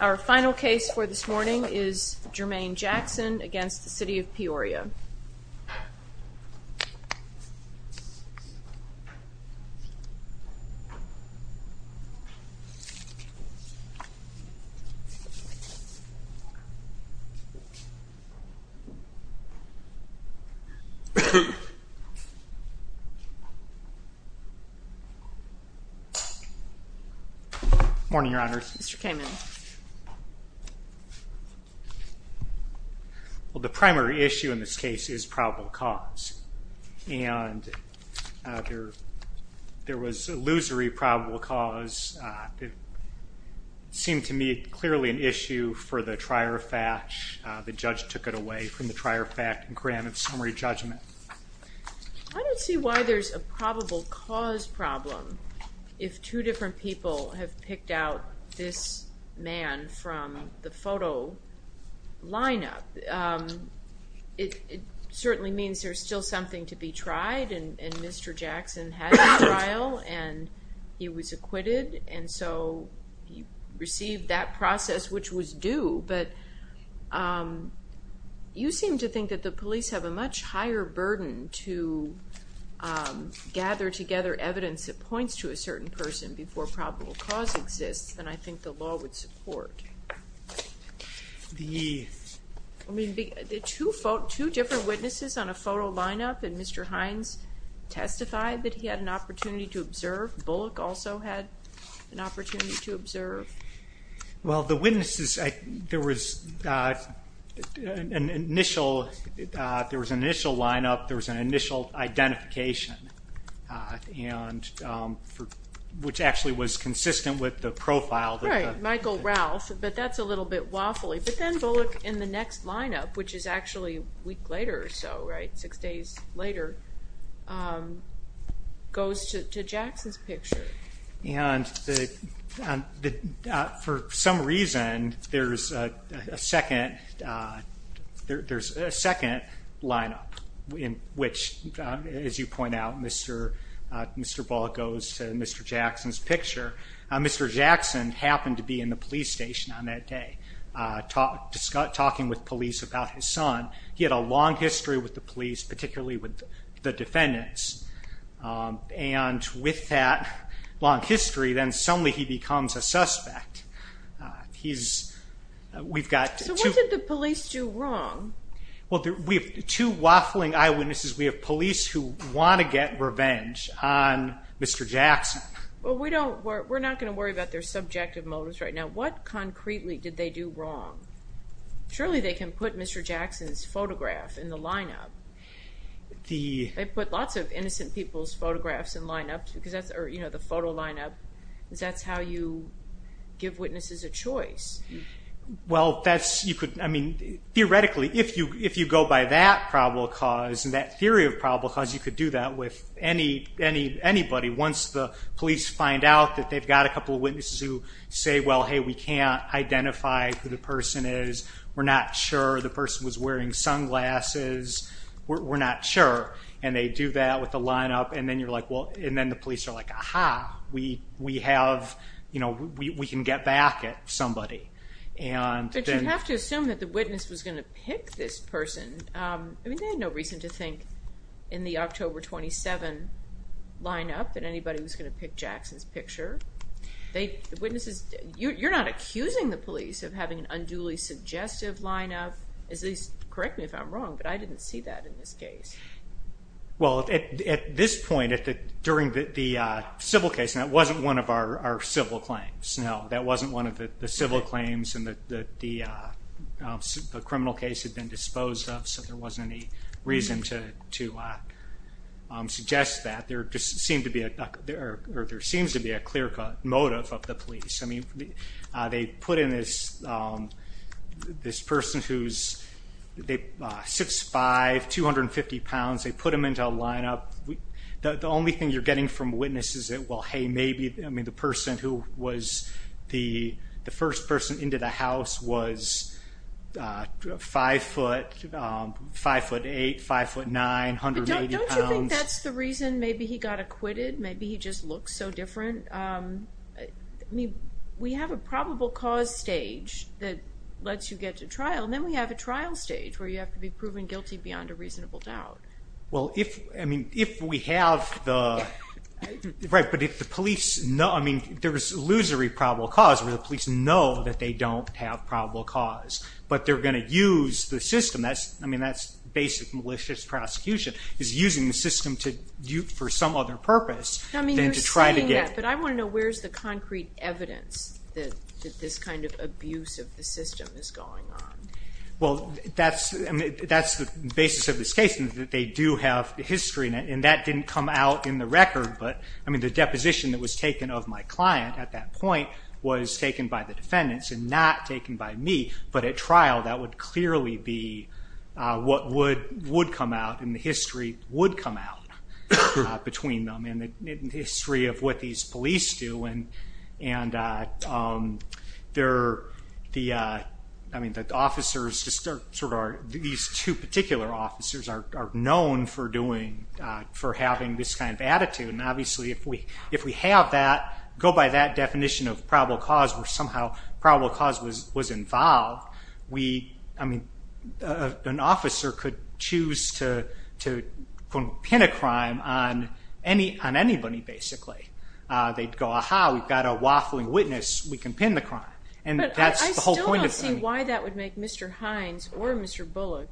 Our final case for this morning is Jermaine Jackson v. City of Peoria. Jermaine Jackson v. City of Peoria, Illinois Morning, Your Honors. Mr. Kamen. Well, the primary issue in this case is probable cause. And there was illusory probable cause. It seemed to me clearly an issue for the trier fact. The judge took it away from the trier fact and granted summary judgment. I don't see why there's a probable cause problem if two different people have picked out this man from the photo lineup. It certainly means there's still something to be tried, and Mr. Jackson had a trial, and he was acquitted, and so he received that process, which was due. But you seem to think that the police have a much higher burden to gather together evidence that points to a certain person before probable cause exists than I think the law would support. I mean, two different witnesses on a photo lineup, and Mr. Hines testified that he had an opportunity to observe. Bullock also had an opportunity to observe. Well, the witnesses, there was an initial lineup. There was an initial identification, which actually was consistent with the profile. Right, Michael Ralph, but that's a little bit waffly. But then Bullock in the next lineup, which is actually a week later or so, six days later, goes to Jackson's picture. And for some reason, there's a second lineup in which, as you point out, Mr. Bullock goes to Mr. Jackson's picture. Mr. Jackson happened to be in the police station on that day talking with police about his son. He had a long history with the police, particularly with the defendants, and with that long history, then suddenly he becomes a suspect. So what did the police do wrong? Well, we have two waffling eyewitnesses. We have police who want to get revenge on Mr. Jackson. Well, we're not going to worry about their subjective motives right now. What concretely did they do wrong? Surely they can put Mr. Jackson's photograph in the lineup. They put lots of innocent people's photographs in the lineup, or the photo lineup, because that's how you give witnesses a choice. Well, theoretically, if you go by that probable cause and that theory of probable cause, you could do that with anybody. Once the police find out that they've got a couple of witnesses who say, well, hey, we can't identify who the person is, we're not sure the person was wearing sunglasses, we're not sure, and they do that with the lineup, and then the police are like, aha, we can get back at somebody. But you have to assume that the witness was going to pick this person. I mean, they had no reason to think in the October 27 lineup that anybody was going to pick Jackson's picture. You're not accusing the police of having an unduly suggestive lineup. Correct me if I'm wrong, but I didn't see that in this case. Well, at this point, during the civil case, and that wasn't one of our civil claims. No, that wasn't one of the civil claims that the criminal case had been disposed of, so there wasn't any reason to suggest that. There seems to be a clear motive of the police. They put in this person who's 6'5", 250 pounds, they put him into a lineup. The only thing you're getting from witnesses is, well, hey, maybe, I mean, the person who was the first person into the house was 5'8", 5'9", 180 pounds. Don't you think that's the reason maybe he got acquitted? Maybe he just looks so different? I mean, we have a probable cause stage that lets you get to trial, and then we have a trial stage where you have to be proven guilty beyond a reasonable doubt. Well, if we have the, right, but if the police know, I mean, there's illusory probable cause where the police know that they don't have probable cause, but they're going to use the system. I mean, that's basic malicious prosecution is using the system for some other purpose than to try to get. Yeah, but I want to know where's the concrete evidence that this kind of abuse of the system is going on? Well, that's the basis of this case, and that they do have the history, and that didn't come out in the record, but, I mean, the deposition that was taken of my client at that point was taken by the defendants and not taken by me, but at trial that would clearly be what would come out and the history would come out between them and the history of what these police do. And they're, I mean, the officers, these two particular officers are known for doing, for having this kind of attitude, and obviously if we have that, go by that definition of probable cause where somehow probable cause was involved, we, I mean, an officer could choose to pin a crime on anybody, basically. They'd go, aha, we've got a waffling witness, we can pin the crime. But I still don't see why that would make Mr. Hines or Mr. Bullock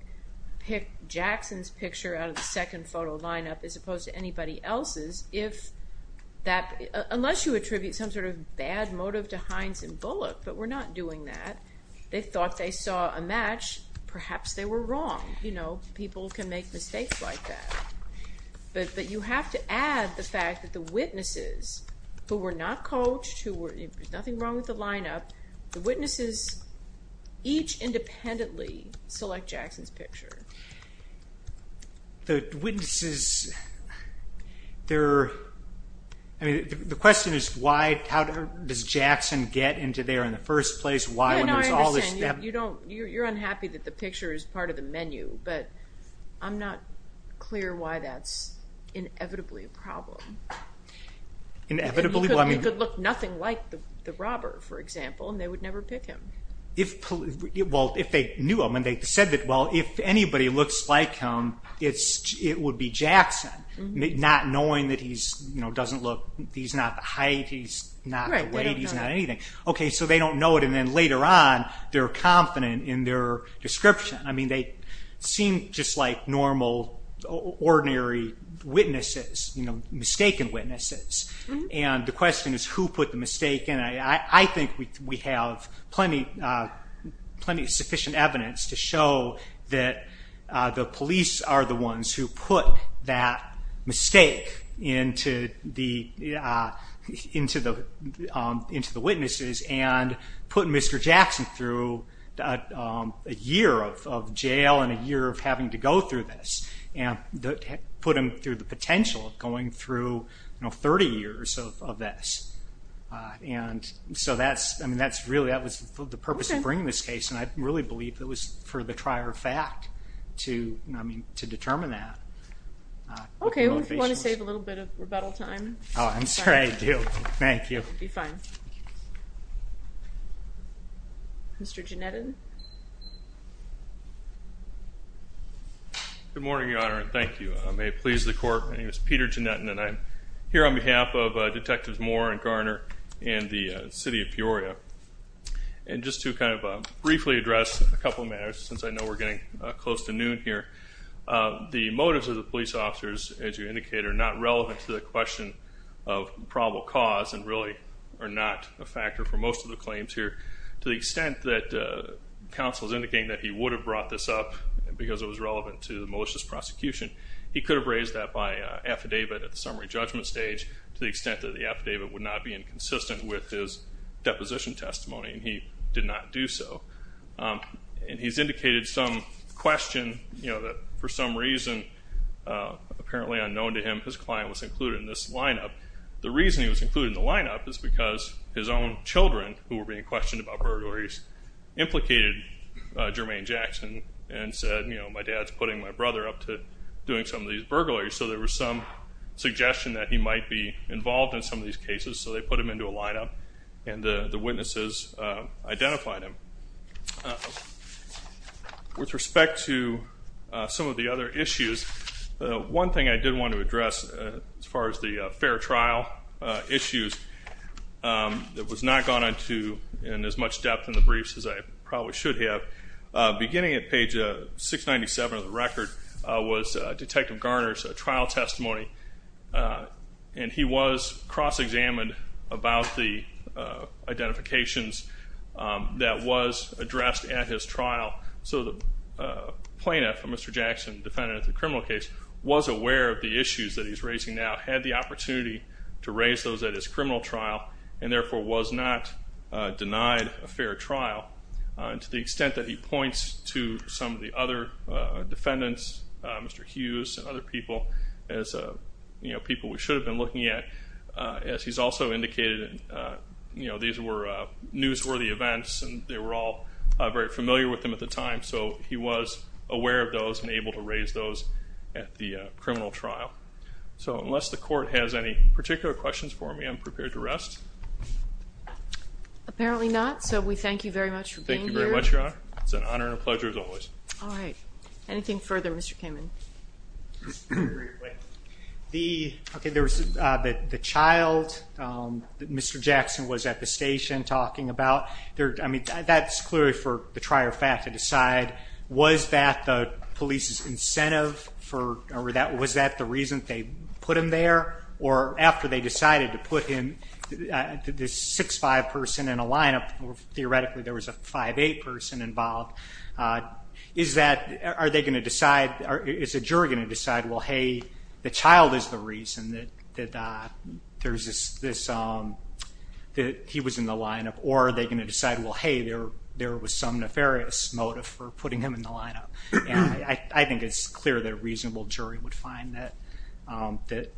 pick Jackson's picture out of the second photo lineup as opposed to anybody else's if that, unless you attribute some sort of bad motive to Hines and Bullock, but we're not doing that. They thought they saw a match, perhaps they were wrong. You know, people can make mistakes like that. But you have to add the fact that the witnesses who were not coached, there's nothing wrong with the lineup, the witnesses each independently select Jackson's picture. The witnesses, they're, I mean, the question is why, how does Jackson get into there in the first place? No, no, I understand. You're unhappy that the picture is part of the menu, but I'm not clear why that's inevitably a problem. Inevitably? It could look nothing like the robber, for example, and they would never pick him. Well, if they knew him, and they said that, well, if anybody looks like him, it would be Jackson, not knowing that he's, you know, doesn't look, he's not the height, he's not the weight, he's not anything. Okay, so they don't know it, and then later on, they're confident in their description. I mean, they seem just like normal, ordinary witnesses, you know, mistaken witnesses. And the question is who put the mistake in. I think we have plenty of sufficient evidence to show that the police are the ones who put that mistake into the witnesses and put Mr. Jackson through a year of jail and a year of having to go through this, and put him through the potential of going through, you know, 30 years of this. And so that's, I mean, that's really, that was the purpose of bringing this case, and I really believe it was for the trier of fact to determine that. Okay, well, if you want to save a little bit of rebuttal time. Oh, I'm sorry, I do. Thank you. It'll be fine. Mr. Jannettan. Good morning, Your Honor, and thank you. May it please the Court, my name is Peter Jannettan, and I'm here on behalf of Detectives Moore and Garner and the city of Peoria. And just to kind of briefly address a couple of matters, since I know we're getting close to noon here, the motives of the police officers, as you indicated, are not relevant to the question of probable cause and really are not a factor for most of the claims here. To the extent that counsel is indicating that he would have brought this up because it was relevant to the malicious prosecution, he could have raised that by affidavit at the summary judgment stage, to the extent that the affidavit would not be inconsistent with his deposition testimony, and he did not do so. And he's indicated some question, you know, that for some reason, apparently unknown to him, his client was included in this lineup. The reason he was included in the lineup is because his own children, who were being questioned about burglaries, implicated Jermaine Jackson and said, you know, my dad's putting my brother up to doing some of these burglaries. So there was some suggestion that he might be involved in some of these cases, so they put him into a lineup and the witnesses identified him. With respect to some of the other issues, one thing I did want to address as far as the fair trial issues, that was not gone into as much depth in the briefs as I probably should have. Beginning at page 697 of the record was Detective Garner's trial testimony, and he was cross-examined about the identifications that was addressed at his trial. So the plaintiff, Mr. Jackson, defendant of the criminal case, was aware of the issues that he's raising now, had the opportunity to raise those at his criminal trial, and therefore was not denied a fair trial. And to the extent that he points to some of the other defendants, Mr. Hughes and other people as people we should have been looking at, as he's also indicated these were newsworthy events and they were all very familiar with him at the time, so he was aware of those and able to raise those at the criminal trial. So unless the court has any particular questions for me, I'm prepared to rest. Apparently not, so we thank you very much for being here. Thank you very much, Your Honor. It's an honor and a pleasure as always. All right. Anything further, Mr. Kamen? Okay, there was the child that Mr. Jackson was at the station talking about. I mean, that's clearly for the trier of fact to decide, was that the police's incentive or was that the reason they put him there? Or after they decided to put him, this 6'5 person in a lineup, or theoretically there was a 5'8 person involved, is a jury going to decide, well, hey, the child is the reason that he was in the lineup, or are they going to decide, well, hey, there was some nefarious motive for putting him in the lineup? I think it's clear that a reasonable jury would find that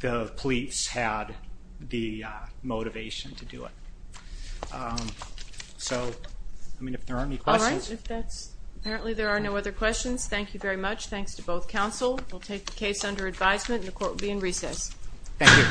the police had the motivation to do it. So, I mean, if there are any questions. All right. Apparently there are no other questions. Thank you very much. Thanks to both counsel. We'll take the case under advisement and the court will be in recess. Thank you.